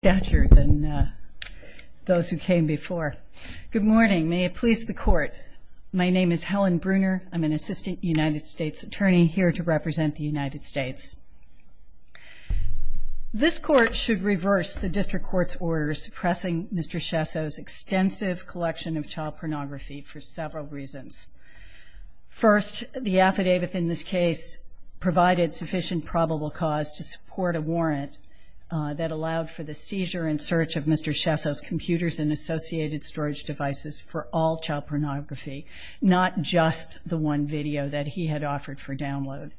Good morning. May it please the court. My name is Helen Bruner. I'm an assistant United States attorney here to represent the United States. This court should reverse the district court's order suppressing Mr. Schesso's extensive collection of child pornography for several reasons. First, the affidavit in this case provided sufficient probable cause to support a warrant that allowed for the seizure and search of Mr. Schesso's computers and associated storage devices for all child pornography, not just the one video that he had offered for download.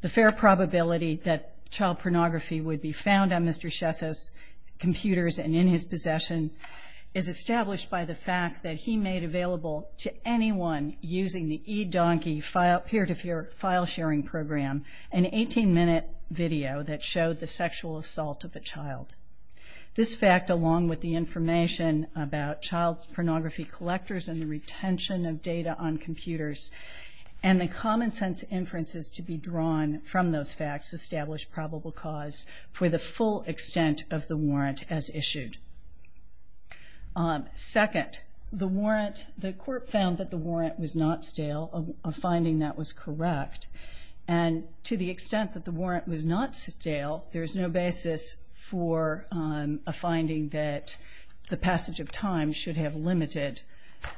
The fair probability that child pornography would be found on Mr. Schesso's computers and in his possession is established by the fact that he made available to anyone using the eDonkey peer-to-peer file sharing program an 18-minute video that showed the sexual assault of a child. This fact, along with the information about child pornography collectors and the retention of data on computers and the common sense inferences to be drawn from those facts, establish probable cause for the full extent of the warrant as issued. Second, the warrant, the court found that the warrant was not stale, a finding that was correct, and to the extent that the warrant was not stale, there is no basis for a finding that the passage of time should have limited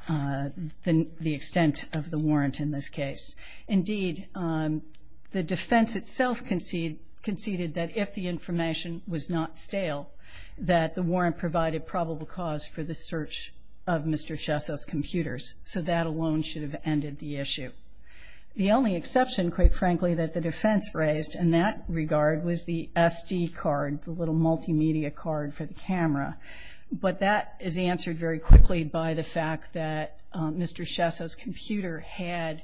the extent of the warrant in this case. Indeed, the defense itself conceded that if the information was not stale, that the warrant provided probable cause for the search of Mr. Schesso's computers. So that alone should have ended the issue. The only exception, quite frankly, that the defense raised in that regard was the SD card, the little multimedia card for the camera. But that is answered very quickly by the fact that Mr. Schesso's computer had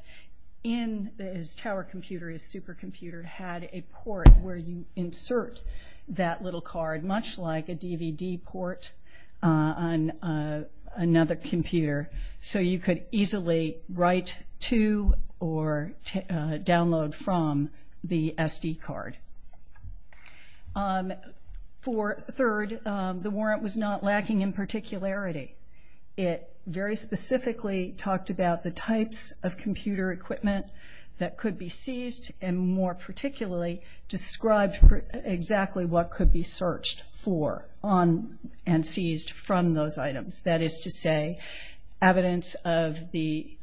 in his tower computer, his supercomputer, had a port where you insert that little card, much like a DVD port on another computer, so you could easily write to or download from the SD card. Third, the warrant was not lacking in particularity. It very specifically talked about the types of computer equipment that could be seized and more particularly described exactly what could be searched for and seized from those items. That is to say, evidence of the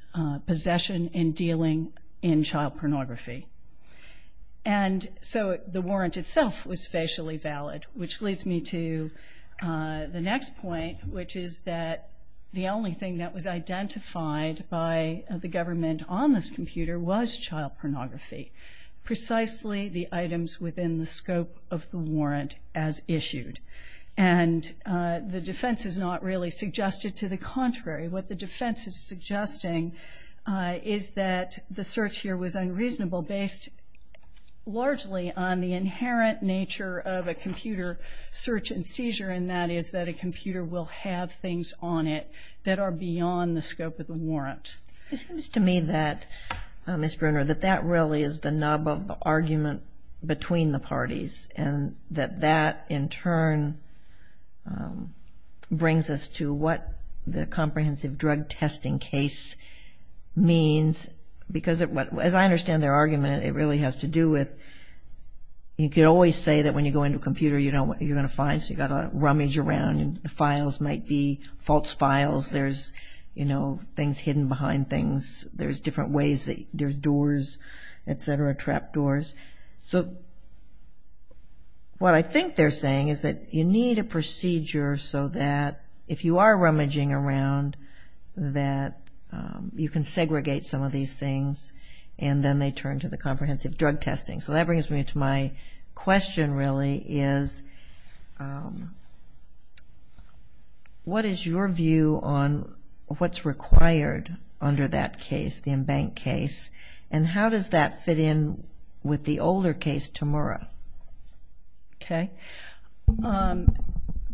possession in dealing in child pornography. And so the warrant itself was facially valid, which leads me to the next point, which is that the only thing that was identified by the government on this computer was child pornography, precisely the items within the scope of the warrant as issued. And the defense has not really suggested to the contrary. What the defense is suggesting is that the search here was unreasonable, based largely on the inherent nature of a computer search and seizure, and that is that a computer will have things on it that are beyond the scope of the warrant. It seems to me that, Ms. Bruner, that that really is the nub of the argument between the parties and that that in turn brings us to what the comprehensive drug testing case means, because as I understand their argument, it really has to do with you can always say that when you go into a computer, you know what you're going to find, so you've got to rummage around. The files might be false files. There's, you know, things hidden behind things. There's different ways that there's doors, et cetera, trap doors. So what I think they're saying is that you need a procedure so that if you are rummaging around, that you can segregate some of these things and then they turn to the comprehensive drug testing. So that brings me to my question, really, is what is your view on what's required under that case, the Embank case, and how does that fit in with the older case, Temura? Okay.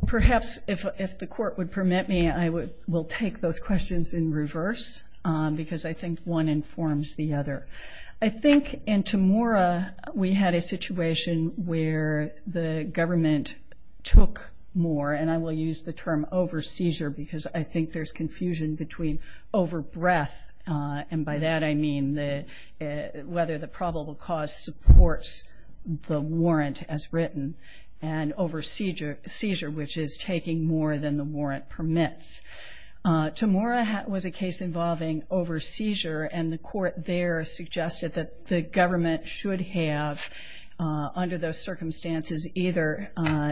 Perhaps if the court would permit me, I will take those questions in reverse, because I think one informs the other. I think in Temura, we had a situation where the government took more, and I will use the term over-seizure because I think there's confusion between over-breath, and by that I mean whether the probable cause supports the warrant as written, and over-seizure, which is taking more than the warrant permits. Temura was a case involving over-seizure, and the court there suggested that the government should have, under those circumstances, either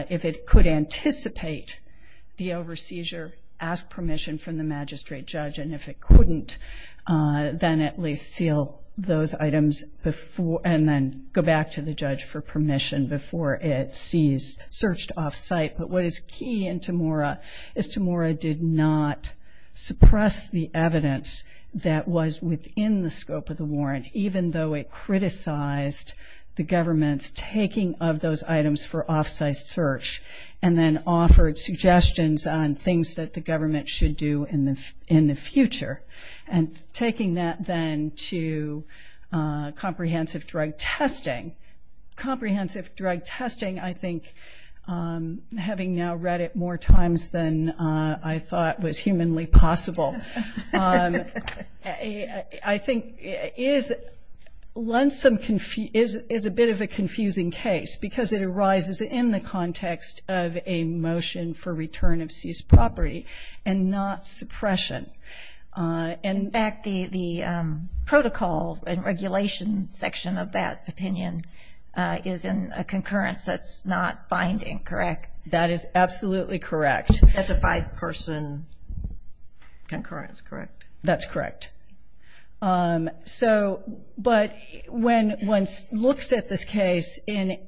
if it could anticipate the over-seizure, ask permission from the magistrate judge, and if it couldn't, then at least seal those items and then go back to the judge for permission before it is searched off-site. But what is key in Temura is Temura did not suppress the evidence that was within the scope of the warrant, even though it criticized the government's taking of those items for off-site search and then offered suggestions on things that the government should do in the future, and taking that then to comprehensive drug testing. Comprehensive drug testing, I think, having now read it more times than I thought was humanly possible, I think is a bit of a confusing case, because it arises in the context of a motion for return of seized property and not suppression. In fact, the protocol and regulation section of that opinion is in a concurrence that's not binding, correct? That is absolutely correct. That's a five-person concurrence, correct? That's correct. But when one looks at this case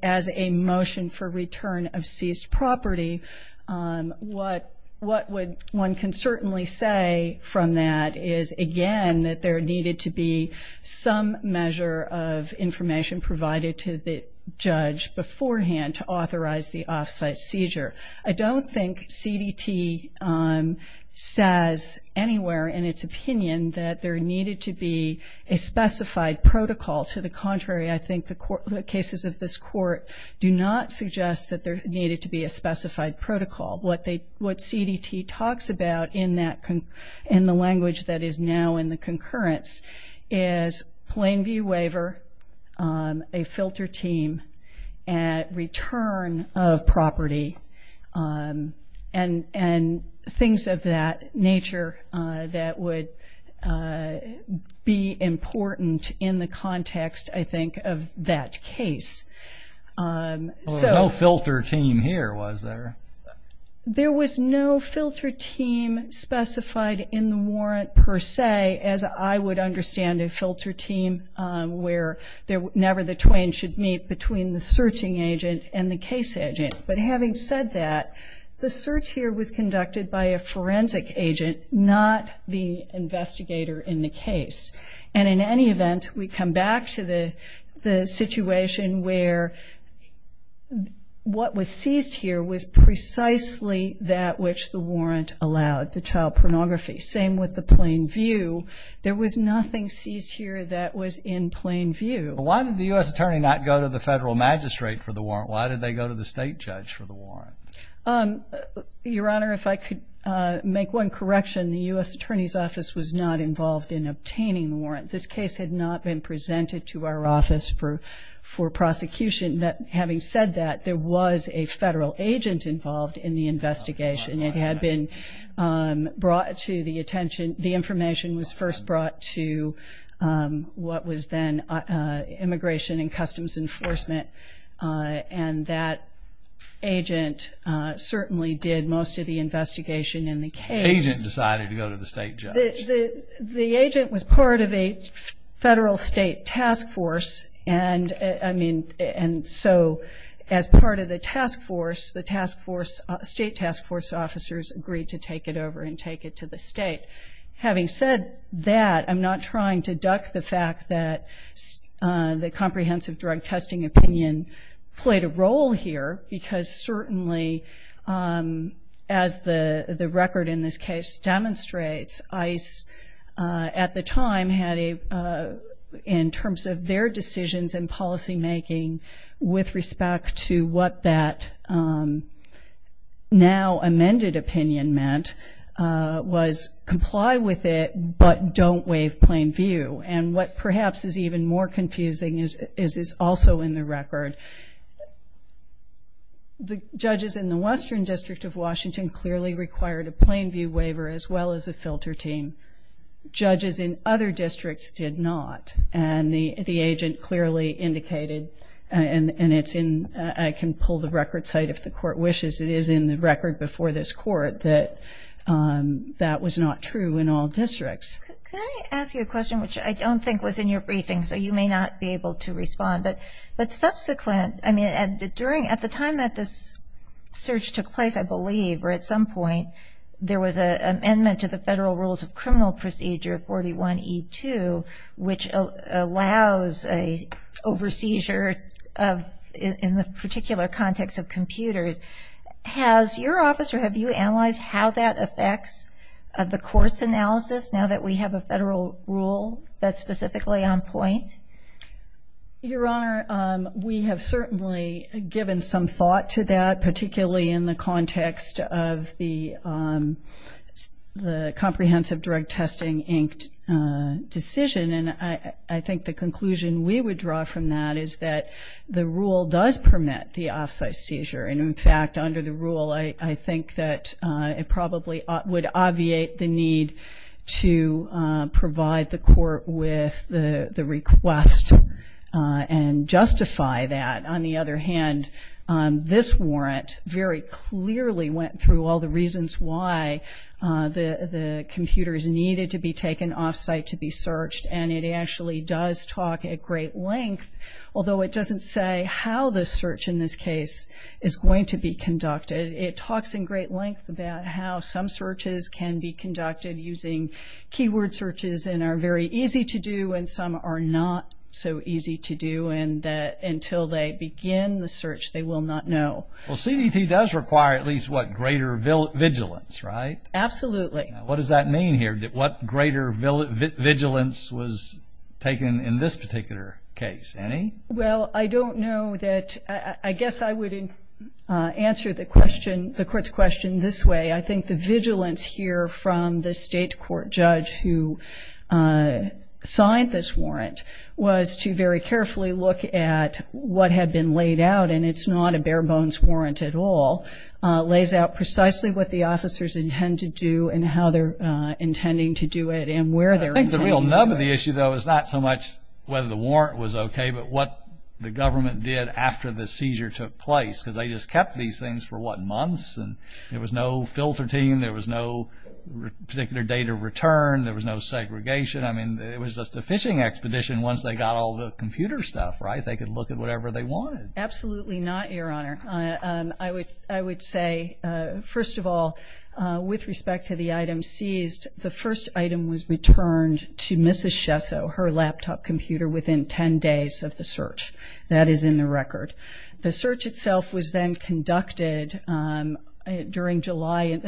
as a motion for return of seized property, what one can certainly say from that is, again, that there needed to be some measure of information provided to the judge beforehand to authorize the off-site seizure. I don't think CDT says anywhere in its opinion that there needed to be a specified protocol. To the contrary, I think the cases of this court do not suggest that there needed to be a specified protocol. What CDT talks about in the language that is now in the concurrence is plain view waiver, a filter team at return of property, and things of that nature that would be important in the context, I think, of that case. There was no filter team here, was there? There was no filter team specified in the warrant per se, as I would understand a filter team where never the twain should meet between the searching agent and the case agent. But having said that, the search here was conducted by a forensic agent, not the investigator in the case. And in any event, we come back to the situation where what was seized here was precisely that which the warrant allowed, the child pornography. Same with the plain view. There was nothing seized here that was in plain view. Why did the U.S. Attorney not go to the federal magistrate for the warrant? Why did they go to the state judge for the warrant? Your Honor, if I could make one correction, the U.S. Attorney's Office was not involved in obtaining the warrant. This case had not been presented to our office for prosecution. Having said that, there was a federal agent involved in the investigation. It had been brought to the attention. The information was first brought to what was then Immigration and Customs Enforcement, and that agent certainly did most of the investigation in the case. The agent decided to go to the state judge. The agent was part of a federal state task force, and, I mean, and so as part of the task force, the task force, state task force officers agreed to take it over and take it to the state. Having said that, I'm not trying to duck the fact that the comprehensive drug testing opinion played a role here because certainly as the record in this case demonstrates, ICE at the time had a, in terms of their decisions and policymaking with respect to what that now amended opinion meant, was comply with it, but don't waive plain view. And what perhaps is even more confusing is also in the record. The judges in the Western District of Washington clearly required a plain view waiver as well as a filter team. Judges in other districts did not, and the agent clearly indicated, and it's in, I can pull the record site if the court wishes, it is in the record before this court that that was not true in all districts. Can I ask you a question, which I don't think was in your briefing, so you may not be able to respond, but subsequent, I mean, at the time that this search took place, I believe, or at some point, there was an amendment to the Federal Rules of Criminal Procedure, 41E2, which allows an over-seizure in the particular context of computers. Has your office or have you analyzed how that affects the court's analysis now that we have a federal rule that's specifically on point? Your Honor, we have certainly given some thought to that, particularly in the context of the Comprehensive Drug Testing Inc. decision, and I think the conclusion we would draw from that is that the rule does permit the off-site seizure. And in fact, under the rule, I think that it probably would obviate the need to provide the court with the request and justify that. On the other hand, this warrant very clearly went through all the reasons why the computers needed to be taken off-site to be searched, and it actually does talk at great length, although it doesn't say how the search in this case is going to be conducted. It talks in great length about how some searches can be conducted using keyword searches and are very easy to do, and some are not so easy to do, and that until they begin the search, they will not know. Well, CDT does require at least, what, greater vigilance, right? Absolutely. What does that mean here? What greater vigilance was taken in this particular case? Annie? Well, I don't know that – I guess I would answer the court's question this way. I think the vigilance here from the state court judge who signed this warrant was to very carefully look at what had been laid out, and it's not a bare-bones warrant at all. It lays out precisely what the officers intend to do and how they're intending to do it and where they're intending to do it. I think the real nub of the issue, though, is not so much whether the warrant was okay but what the government did after the seizure took place, because they just kept these things for, what, months, and there was no filter team, there was no particular date of return, there was no segregation. I mean, it was just a fishing expedition once they got all the computer stuff, right? They could look at whatever they wanted. Absolutely not, Your Honor. I would say, first of all, with respect to the item seized, the first item was returned to Mrs. Schesso, her laptop computer, within 10 days of the search. That is in the record. The search itself was then conducted during July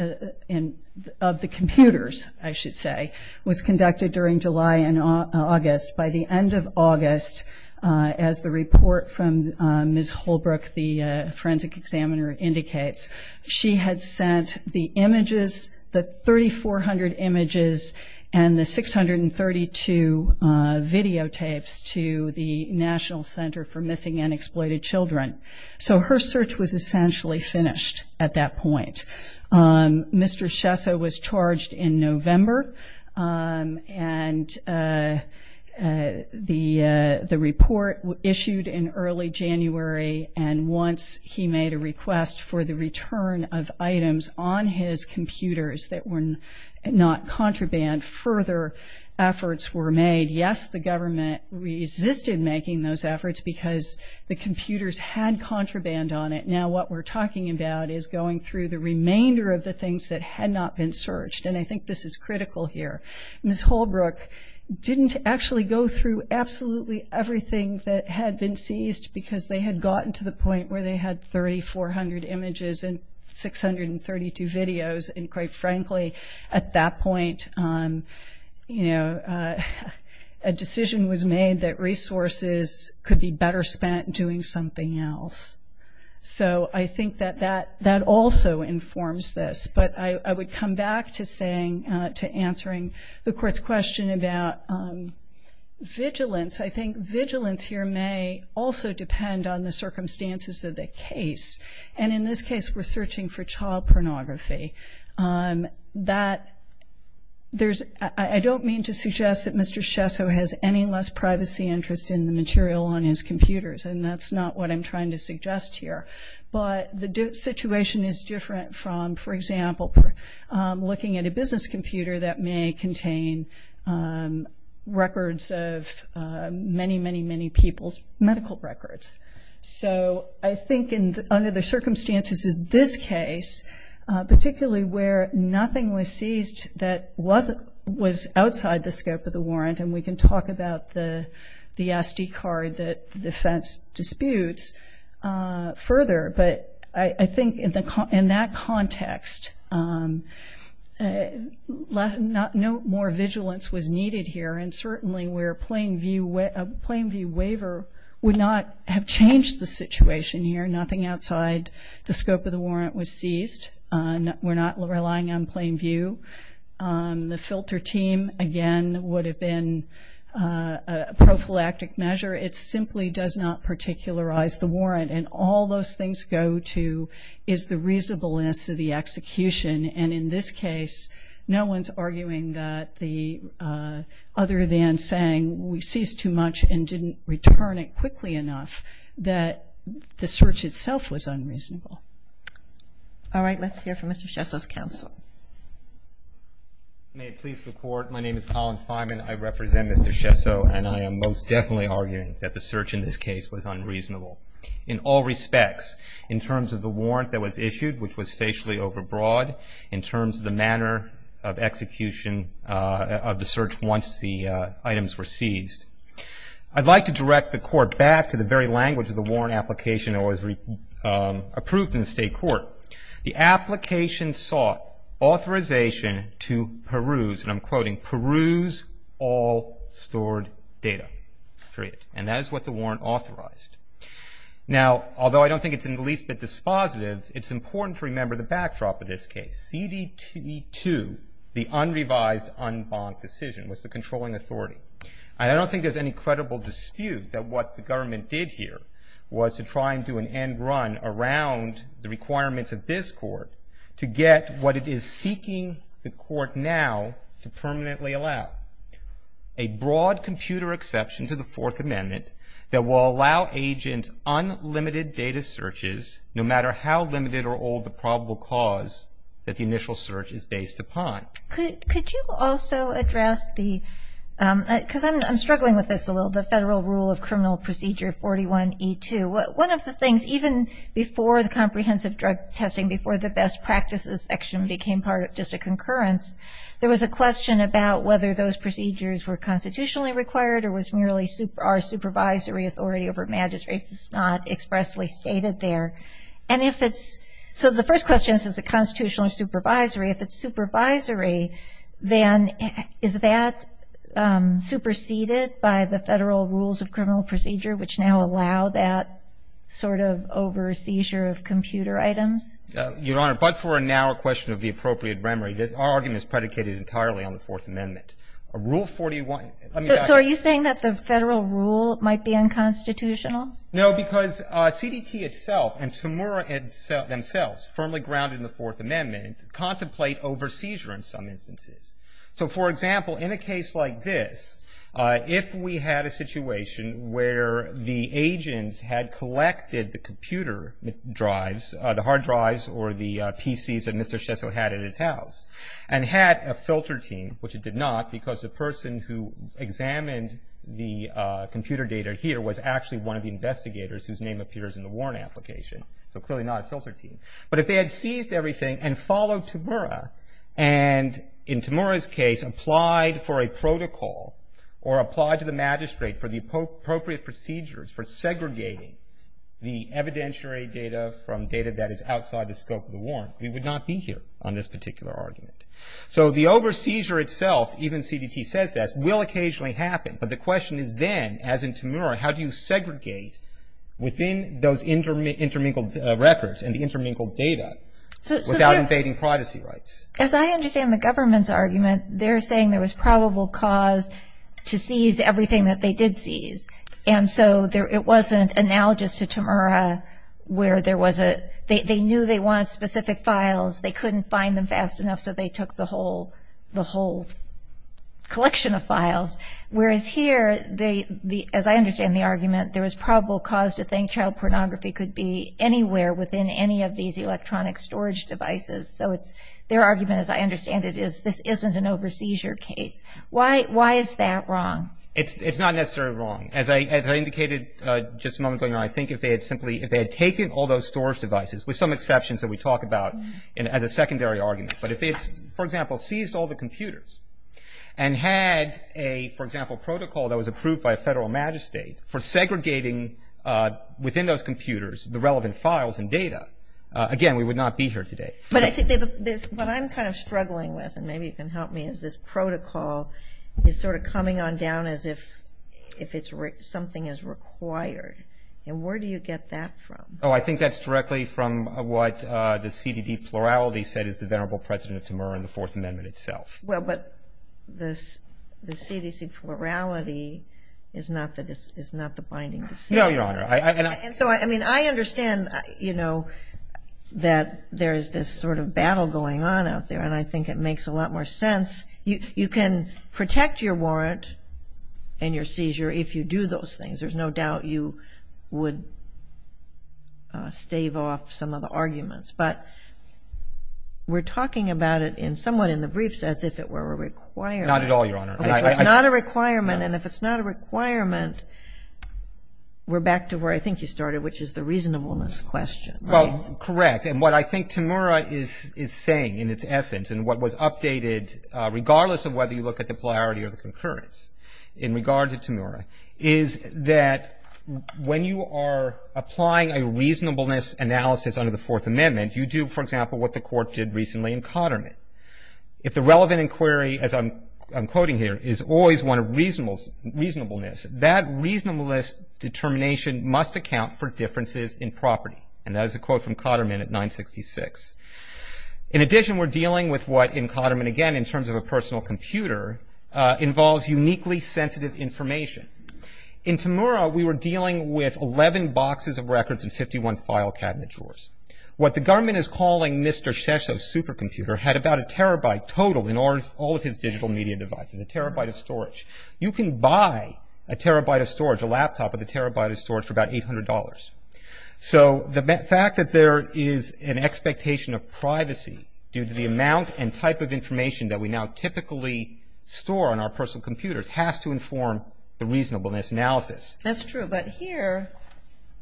of the computers, I should say. It was conducted during July and August. By the end of August, as the report from Ms. Holbrook, the forensic examiner, indicates, she had sent the images, the 3,400 images and the 632 videotapes, to the National Center for Missing and Exploited Children. So her search was essentially finished at that point. Mr. Schesso was charged in November, and the report issued in early January, and once he made a request for the return of items on his computers that were not contraband, further efforts were made. Yes, the government resisted making those efforts because the computers had contraband on it. Now what we're talking about is going through the remainder of the things that had not been searched, and I think this is critical here. Ms. Holbrook didn't actually go through absolutely everything that had been seized because they had gotten to the point where they had 3,400 images and 632 videos, and quite frankly at that point a decision was made that resources could be better spent doing something else. So I think that that also informs this. But I would come back to answering the Court's question about vigilance. I think vigilance here may also depend on the circumstances of the case, and in this case we're searching for child pornography. I don't mean to suggest that Mr. Schesso has any less privacy interest in the material on his computers, and that's not what I'm trying to suggest here. But the situation is different from, for example, looking at a business computer that may contain records of many, many, many people's medical records. So I think under the circumstances of this case, particularly where nothing was seized that was outside the scope of the warrant, and we can talk about the SD card that the defense disputes further, but I think in that context no more vigilance was needed here, and certainly where a plain view waiver would not have changed the situation here. Nothing outside the scope of the warrant was seized. We're not relying on plain view. The filter team, again, would have been a prophylactic measure. It simply does not particularize the warrant, and all those things go to is the reasonableness of the execution, and in this case no one's arguing other than saying we seized too much and didn't return it quickly enough that the search itself was unreasonable. All right. Let's hear from Mr. Schesso's counsel. May it please the Court. My name is Colin Simon. I represent Mr. Schesso, and I am most definitely arguing that the search in this case was unreasonable in all respects. In terms of the warrant that was issued, which was facially overbroad, in terms of the manner of execution of the search once the items were seized. I'd like to direct the Court back to the very language of the warrant application that was approved in the state court. The application sought authorization to peruse, and I'm quoting, peruse all stored data, period, and that is what the warrant authorized. Now, although I don't think it's in the least bit dispositive, it's important to remember the backdrop of this case. CDT2, the unrevised unbonked decision, was the controlling authority, and I don't think there's any credible dispute that what the government did here was to try and do an end run around the requirements of this court to get what it is seeking the court now to permanently allow, a broad computer exception to the Fourth Amendment that will allow agents unlimited data searches, no matter how limited or old the probable cause that the initial search is based upon. Could you also address the, because I'm struggling with this a little, the federal rule of criminal procedure 41E2. One of the things, even before the comprehensive drug testing, before the best practices section became part of just a concurrence, there was a question about whether those procedures were constitutionally required or was merely our supervisory authority over magistrates. It's not expressly stated there. And if it's, so the first question is, is it constitutional or supervisory? If it's supervisory, then is that superseded by the federal rules of criminal procedure, which now allow that sort of over seizure of computer items? Your Honor, but for now a question of the appropriate memory, our argument is predicated entirely on the Fourth Amendment. Rule 41. So are you saying that the federal rule might be unconstitutional? No, because CDT itself and Tamura themselves, firmly grounded in the Fourth Amendment, contemplate over seizure in some instances. So, for example, in a case like this, if we had a situation where the agents had collected the computer drives, the hard drives or the PCs that Mr. Schesso had at his house, and had a filter team, which it did not, because the person who examined the computer data here was actually one of the investigators whose name appears in the warrant application. So clearly not a filter team. But if they had seized everything and followed Tamura, and in Tamura's case applied for a protocol or applied to the magistrate for the appropriate procedures for segregating the evidentiary data from data that is So the over seizure itself, even CDT says that, will occasionally happen. But the question is then, as in Tamura, how do you segregate within those intermingled records and the intermingled data without invading privacy rights? As I understand the government's argument, they're saying there was probable cause to seize everything that they did seize. And so it wasn't analogous to Tamura where there was a, they knew they wanted specific files. They couldn't find them fast enough, so they took the whole collection of files. Whereas here, as I understand the argument, there was probable cause to think child pornography could be anywhere within any of these electronic storage devices. So their argument, as I understand it, is this isn't an over seizure case. Why is that wrong? It's not necessarily wrong. As I indicated just a moment ago, I think if they had simply, if they had taken all those storage devices, with some exceptions that we talk about as a secondary argument. But if they, for example, seized all the computers and had a, for example, protocol that was approved by a federal magistrate for segregating within those computers the relevant files and data, again, we would not be here today. But I think what I'm kind of struggling with, and maybe you can help me, is this protocol is sort of coming on down as if something is required. And where do you get that from? Oh, I think that's directly from what the CDD plurality said is the venerable president of Timur in the Fourth Amendment itself. Well, but the CDC plurality is not the binding decision. No, Your Honor. And so, I mean, I understand, you know, that there is this sort of battle going on out there, and I think it makes a lot more sense. You can protect your warrant and your seizure if you do those things. There's no doubt you would stave off some of the arguments. But we're talking about it in somewhat in the briefs as if it were a requirement. Not at all, Your Honor. Okay, so it's not a requirement. And if it's not a requirement, we're back to where I think you started, which is the reasonableness question. Well, correct. And what I think Timur is saying in its essence and what was updated, regardless of whether you look at the plurality or the concurrence, in regard to Timur is that when you are applying a reasonableness analysis under the Fourth Amendment, you do, for example, what the court did recently in Cotterman. If the relevant inquiry, as I'm quoting here, is always one of reasonableness, that reasonableness determination must account for differences in property. And that is a quote from Cotterman at 966. in terms of a personal computer involves uniquely sensitive information. In Timur, we were dealing with 11 boxes of records and 51 file cabinet drawers. What the government is calling Mr. Shesha's supercomputer had about a terabyte total in all of his digital media devices, a terabyte of storage. You can buy a terabyte of storage, a laptop with a terabyte of storage, for about $800. So the fact that there is an expectation of privacy due to the amount and type of information that we now typically store on our personal computers has to inform the reasonableness analysis. That's true, but here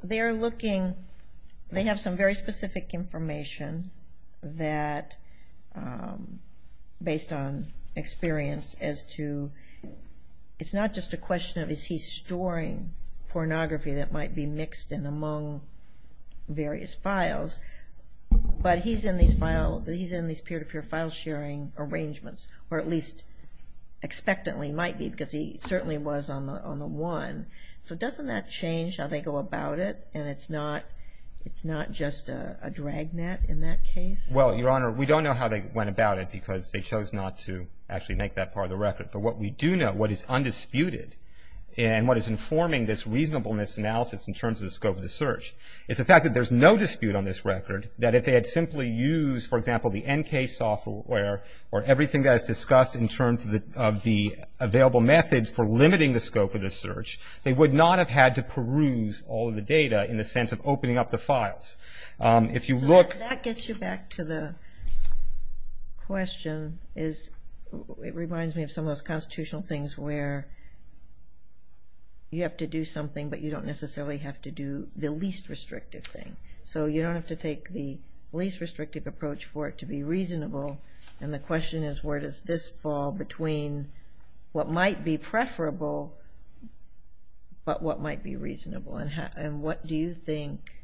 they're looking. They have some very specific information that, based on experience, as to it's not just a question of is he storing pornography that might be mixed in among various files, but he's in these peer-to-peer file sharing arrangements, or at least expectantly might be because he certainly was on the one. So doesn't that change how they go about it and it's not just a drag net in that case? Well, Your Honor, we don't know how they went about it because they chose not to actually make that part of the record. But what we do know, what is undisputed, and what is informing this reasonableness analysis in terms of the scope of the search, is the fact that there's no dispute on this record, that if they had simply used, for example, the NK software or everything that is discussed in terms of the available methods for limiting the scope of the search, they would not have had to peruse all of the data in the sense of opening up the files. So that gets you back to the question. It reminds me of some of those constitutional things where you have to do something, but you don't necessarily have to do the least restrictive thing. So you don't have to take the least restrictive approach for it to be reasonable. And the question is where does this fall between what might be preferable but what might be reasonable? And what do you think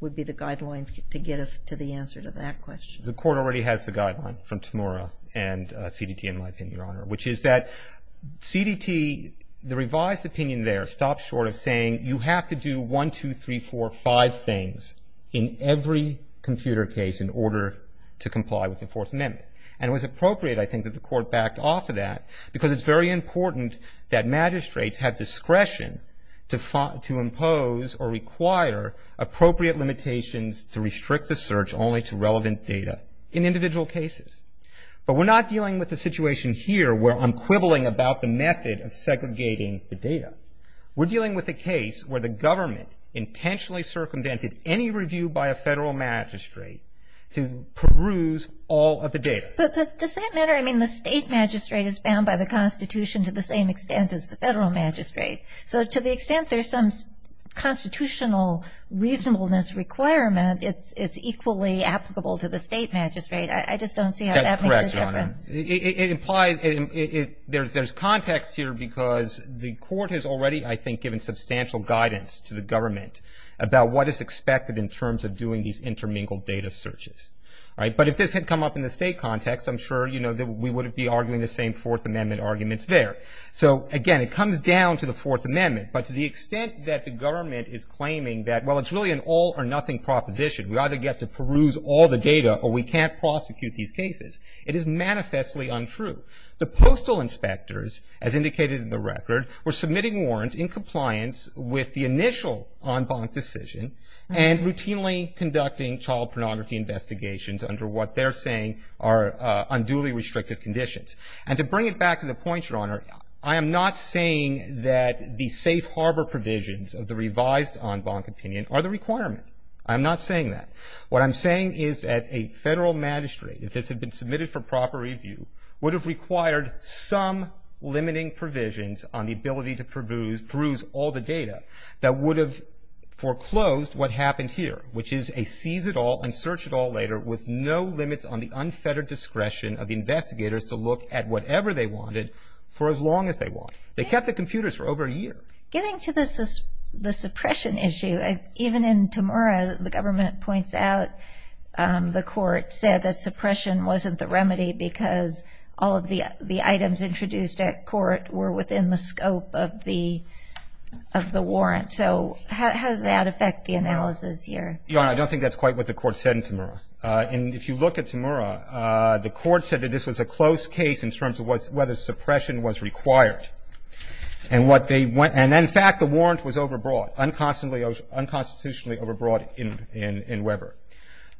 would be the guideline to get us to the answer to that question? The Court already has the guideline from Tamora and CDT, in my opinion, Your Honor, which is that CDT, the revised opinion there, stops short of saying you have to do one, two, three, four, five things in every computer case in order to comply with the Fourth Amendment. And it was appropriate, I think, that the Court backed off of that because it's very important that magistrates have discretion to impose or require appropriate limitations to restrict the search only to relevant data in individual cases. But we're not dealing with a situation here where I'm quibbling about the method of segregating the data. We're dealing with a case where the government intentionally circumvented any review by a federal magistrate to peruse all of the data. But does that matter? I mean, the state magistrate is bound by the Constitution to the same extent as the federal magistrate. So to the extent there's some constitutional reasonableness requirement, it's equally applicable to the state magistrate. I just don't see how that makes a difference. That's correct, Your Honor. It implies there's context here because the Court has already, I think, given substantial guidance to the government about what is expected in terms of doing these intermingled data searches. But if this had come up in the state context, I'm sure we wouldn't be arguing the same Fourth Amendment arguments there. So, again, it comes down to the Fourth Amendment, but to the extent that the government is claiming that, well, it's really an all or nothing proposition. We either get to peruse all the data or we can't prosecute these cases. It is manifestly untrue. The postal inspectors, as indicated in the record, were submitting warrants in compliance with the initial en banc decision and routinely conducting child pornography investigations under what they're saying are unduly restrictive conditions. And to bring it back to the point, Your Honor, I am not saying that the safe harbor provisions of the revised en banc opinion are the requirement. I'm not saying that. What I'm saying is that a federal magistrate, if this had been submitted for proper review, would have required some limiting provisions on the ability to peruse all the data that would have foreclosed what happened here, which is a seize it all and search it all later with no limits on the unfettered discretion of the investigators to look at whatever they wanted for as long as they want. They kept the computers for over a year. Getting to the suppression issue, even in Temura, the government points out the court said that suppression wasn't the remedy because all of the items introduced at court were within the scope of the warrant. So how does that affect the analysis here? Your Honor, I don't think that's quite what the court said in Temura. And if you look at Temura, the court said that this was a close case in terms of whether suppression was required. And in fact, the warrant was overbought, unconstitutionally overbought in Weber.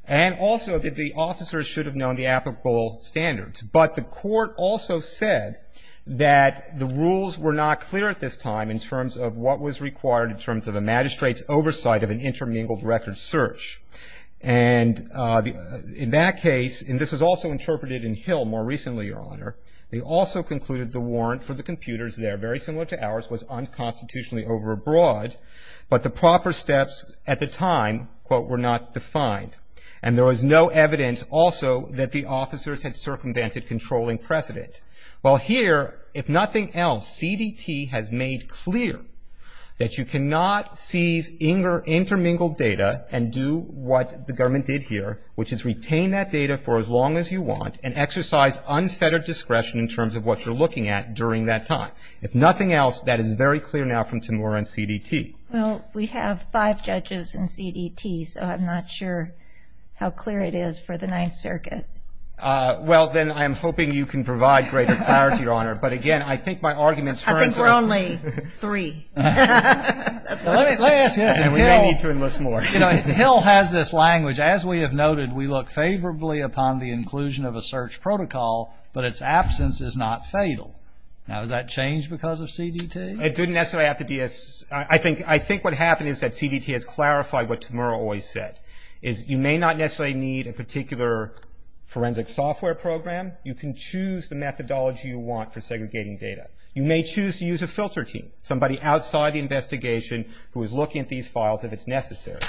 And also that the officers should have known the applicable standards. But the court also said that the rules were not clear at this time in terms of what was required in terms of a magistrate's oversight of an intermingled record search. And in that case, and this was also interpreted in Hill more recently, Your Honor, they also concluded the warrant for the computers there, very similar to ours, was unconstitutionally overbought. But the proper steps at the time, quote, were not defined. And there was no evidence also that the officers had circumvented controlling precedent. Well, here, if nothing else, CDT has made clear that you cannot seize intermingled data and do what the government did here, which is retain that data for as long as you want and exercise unfettered discretion in terms of what you're looking at during that time. If nothing else, that is very clear now from Temura and CDT. Well, we have five judges in CDT, so I'm not sure how clear it is for the Ninth Circuit. Well, then I'm hoping you can provide greater clarity, Your Honor. But again, I think my argument turns to this. I think we're only three. Let me ask you this, and we may need to enlist more. You know, Hill has this language, as we have noted, we look favorably upon the inclusion of a search protocol, but its absence is not fatal. Now, has that changed because of CDT? It didn't necessarily have to be. I think what happened is that CDT has clarified what Temura always said, is you may not necessarily need a particular forensic software program. You can choose the methodology you want for segregating data. You may choose to use a filter team, somebody outside the investigation who is looking at these files if it's necessary.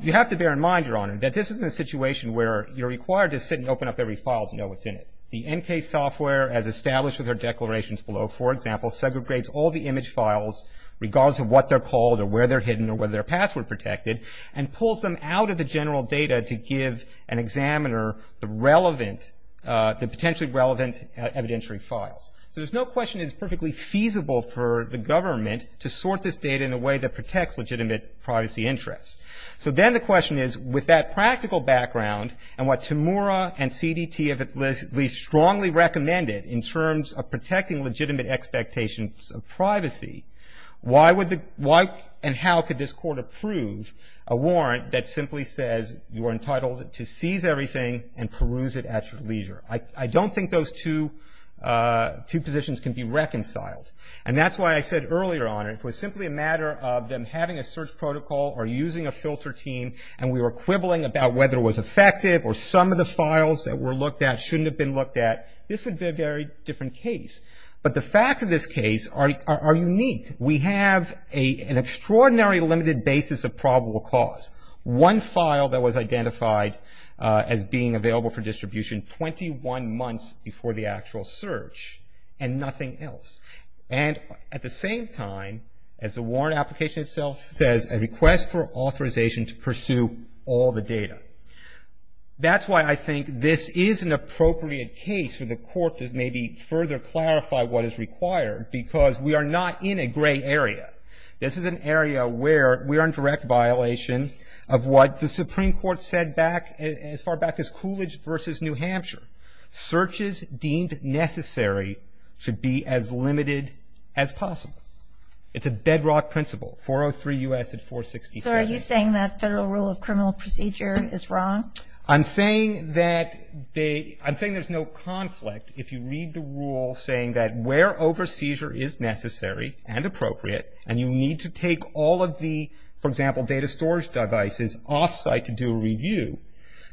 You have to bear in mind, Your Honor, that this is a situation where you're required to sit and open up every file to know what's in it. The NCASE software, as established with our declarations below, for example, segregates all the image files regardless of what they're called or where they're hidden or whether they're password protected, and pulls them out of the general data to give an examiner the relevant, the potentially relevant evidentiary files. So there's no question it's perfectly feasible for the government to sort this data in a way that protects legitimate privacy interests. So then the question is, with that practical background and what Temura and CDT have at least strongly recommended in terms of protecting legitimate expectations of privacy, why would the why and how could this court approve a warrant that simply says you are entitled to seize everything and peruse it at your leisure? I don't think those two positions can be reconciled. And that's why I said earlier, Your Honor, if it was simply a matter of them having a search protocol or using a filter team and we were quibbling about whether it was effective or some of the files that were looked at shouldn't have been looked at, this would be a very different case. But the facts of this case are unique. We have an extraordinary limited basis of probable cause. One file that was identified as being available for distribution 21 months before the actual search and nothing else. And at the same time, as the warrant application itself says, a request for authorization to pursue all the data. That's why I think this is an appropriate case for the court to maybe further clarify what is required because we are not in a gray area. This is an area where we are in direct violation of what the Supreme Court said back, as far back as Coolidge versus New Hampshire. Searches deemed necessary should be as limited as possible. It's a bedrock principle. 403 U.S. at 463. So are you saying that federal rule of criminal procedure is wrong? I'm saying that they, I'm saying there's no conflict if you read the rule saying that is necessary and appropriate and you need to take all of the, for example, data storage devices off-site to do a review.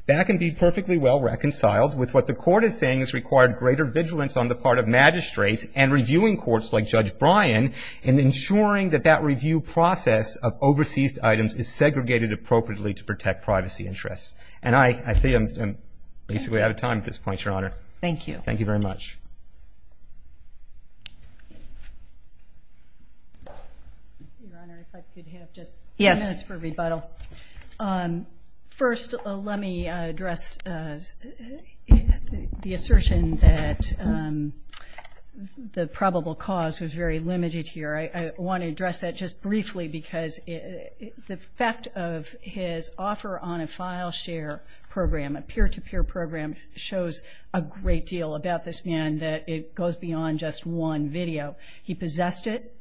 That can be perfectly well reconciled with what the court is saying is required greater vigilance on the part of magistrates and reviewing courts like Judge Bryan in ensuring that that review process of overseas items is segregated appropriately to protect privacy interests. And I think I'm basically out of time at this point, Your Honor. Thank you. Thank you very much. Your Honor, if I could have just a few minutes for rebuttal. First, let me address the assertion that the probable cause was very limited here. I want to address that just briefly because the fact of his offer on a file share program, a peer-to-peer program, shows a great deal about this man that it goes beyond just one video. He possessed it.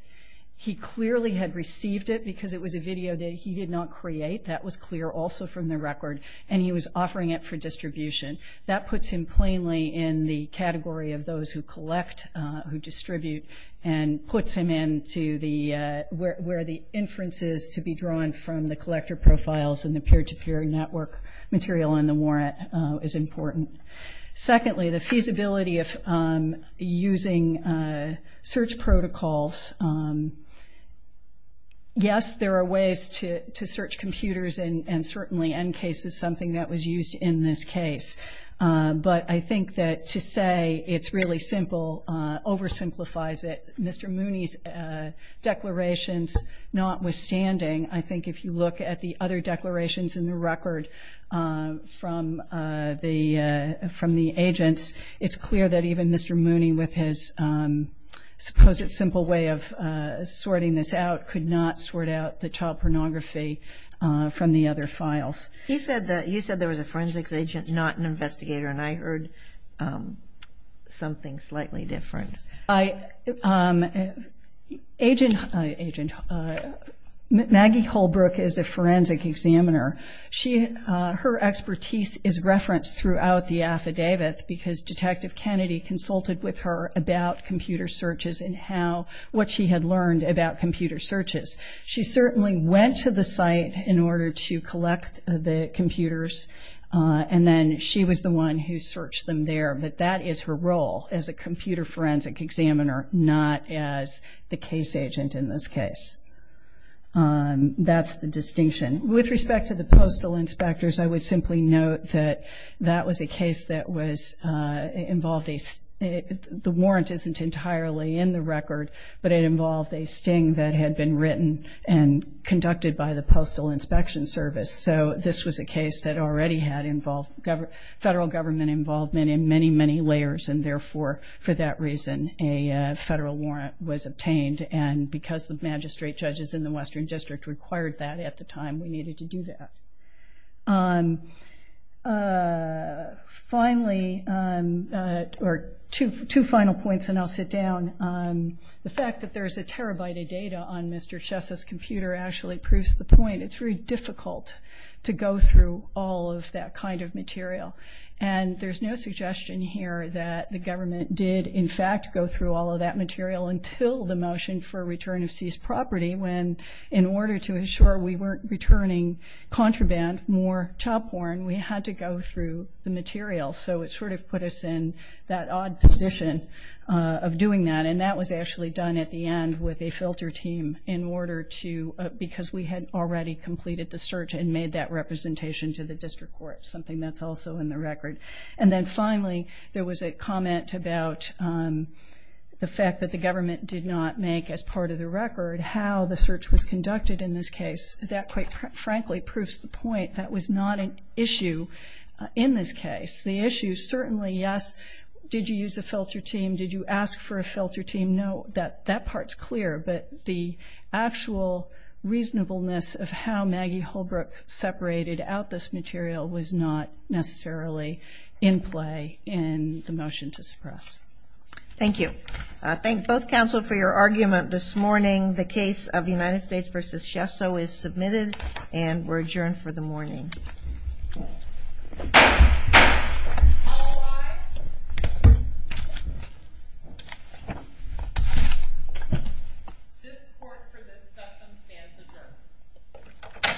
He clearly had received it because it was a video that he did not create. That was clear also from the record. And he was offering it for distribution. That puts him plainly in the category of those who collect, who distribute, and puts him into the, where the inferences to be drawn from the collector profiles and the peer-to-peer network material in the warrant is important. Secondly, the feasibility of using search protocols. Yes, there are ways to search computers, and certainly NCASE is something that was used in this case. But I think that to say it's really simple oversimplifies it. Mr. Mooney's declarations notwithstanding, I think if you look at the other declarations in the record from the agents, it's clear that even Mr. Mooney with his supposed simple way of sorting this out could not sort out the child pornography from the other files. You said there was a forensics agent, not an investigator, and I heard something slightly different. Agent Maggie Holbrook is a forensic examiner. Her expertise is referenced throughout the affidavit because Detective Kennedy consulted with her about computer searches and what she had learned about computer searches. She certainly went to the site in order to collect the computers, and then she was the one who searched them there. But that is her role as a computer forensic examiner, not as the case agent in this case. That's the distinction. With respect to the postal inspectors, I would simply note that that was a case that involved a sting. The warrant isn't entirely in the record, but it involved a sting that had been written and conducted by the Postal Inspection Service. So this was a case that already had federal government involvement in many, many layers, and therefore, for that reason, a federal warrant was obtained. And because the magistrate judges in the Western District required that at the time, we needed to do that. Finally, or two final points, and I'll sit down. The fact that there is a terabyte of data on Mr. Chessa's computer actually proves the point. It's very difficult to go through all of that kind of material. And there's no suggestion here that the government did, in fact, go through all of that material until the motion for return of seized property when in order to ensure we weren't returning contraband, more chop horn, we had to go through the material. So it sort of put us in that odd position of doing that, and that was actually done at the end with a filter team because we had already completed the search and made that representation to the district court, something that's also in the record. And then finally, there was a comment about the fact that the government did not make, as part of the record, how the search was conducted in this case. That, quite frankly, proves the point. That was not an issue in this case. The issue certainly, yes, did you use a filter team? Did you ask for a filter team? No. That part's clear, but the actual reasonableness of how Maggie Holbrook separated out this material was not necessarily in play in the motion to suppress. Thank you. I thank both counsel for your argument this morning. The case of United States v. Shesso is submitted, and we're adjourned for the morning. All rise. This court, for this substance, stands adjourned.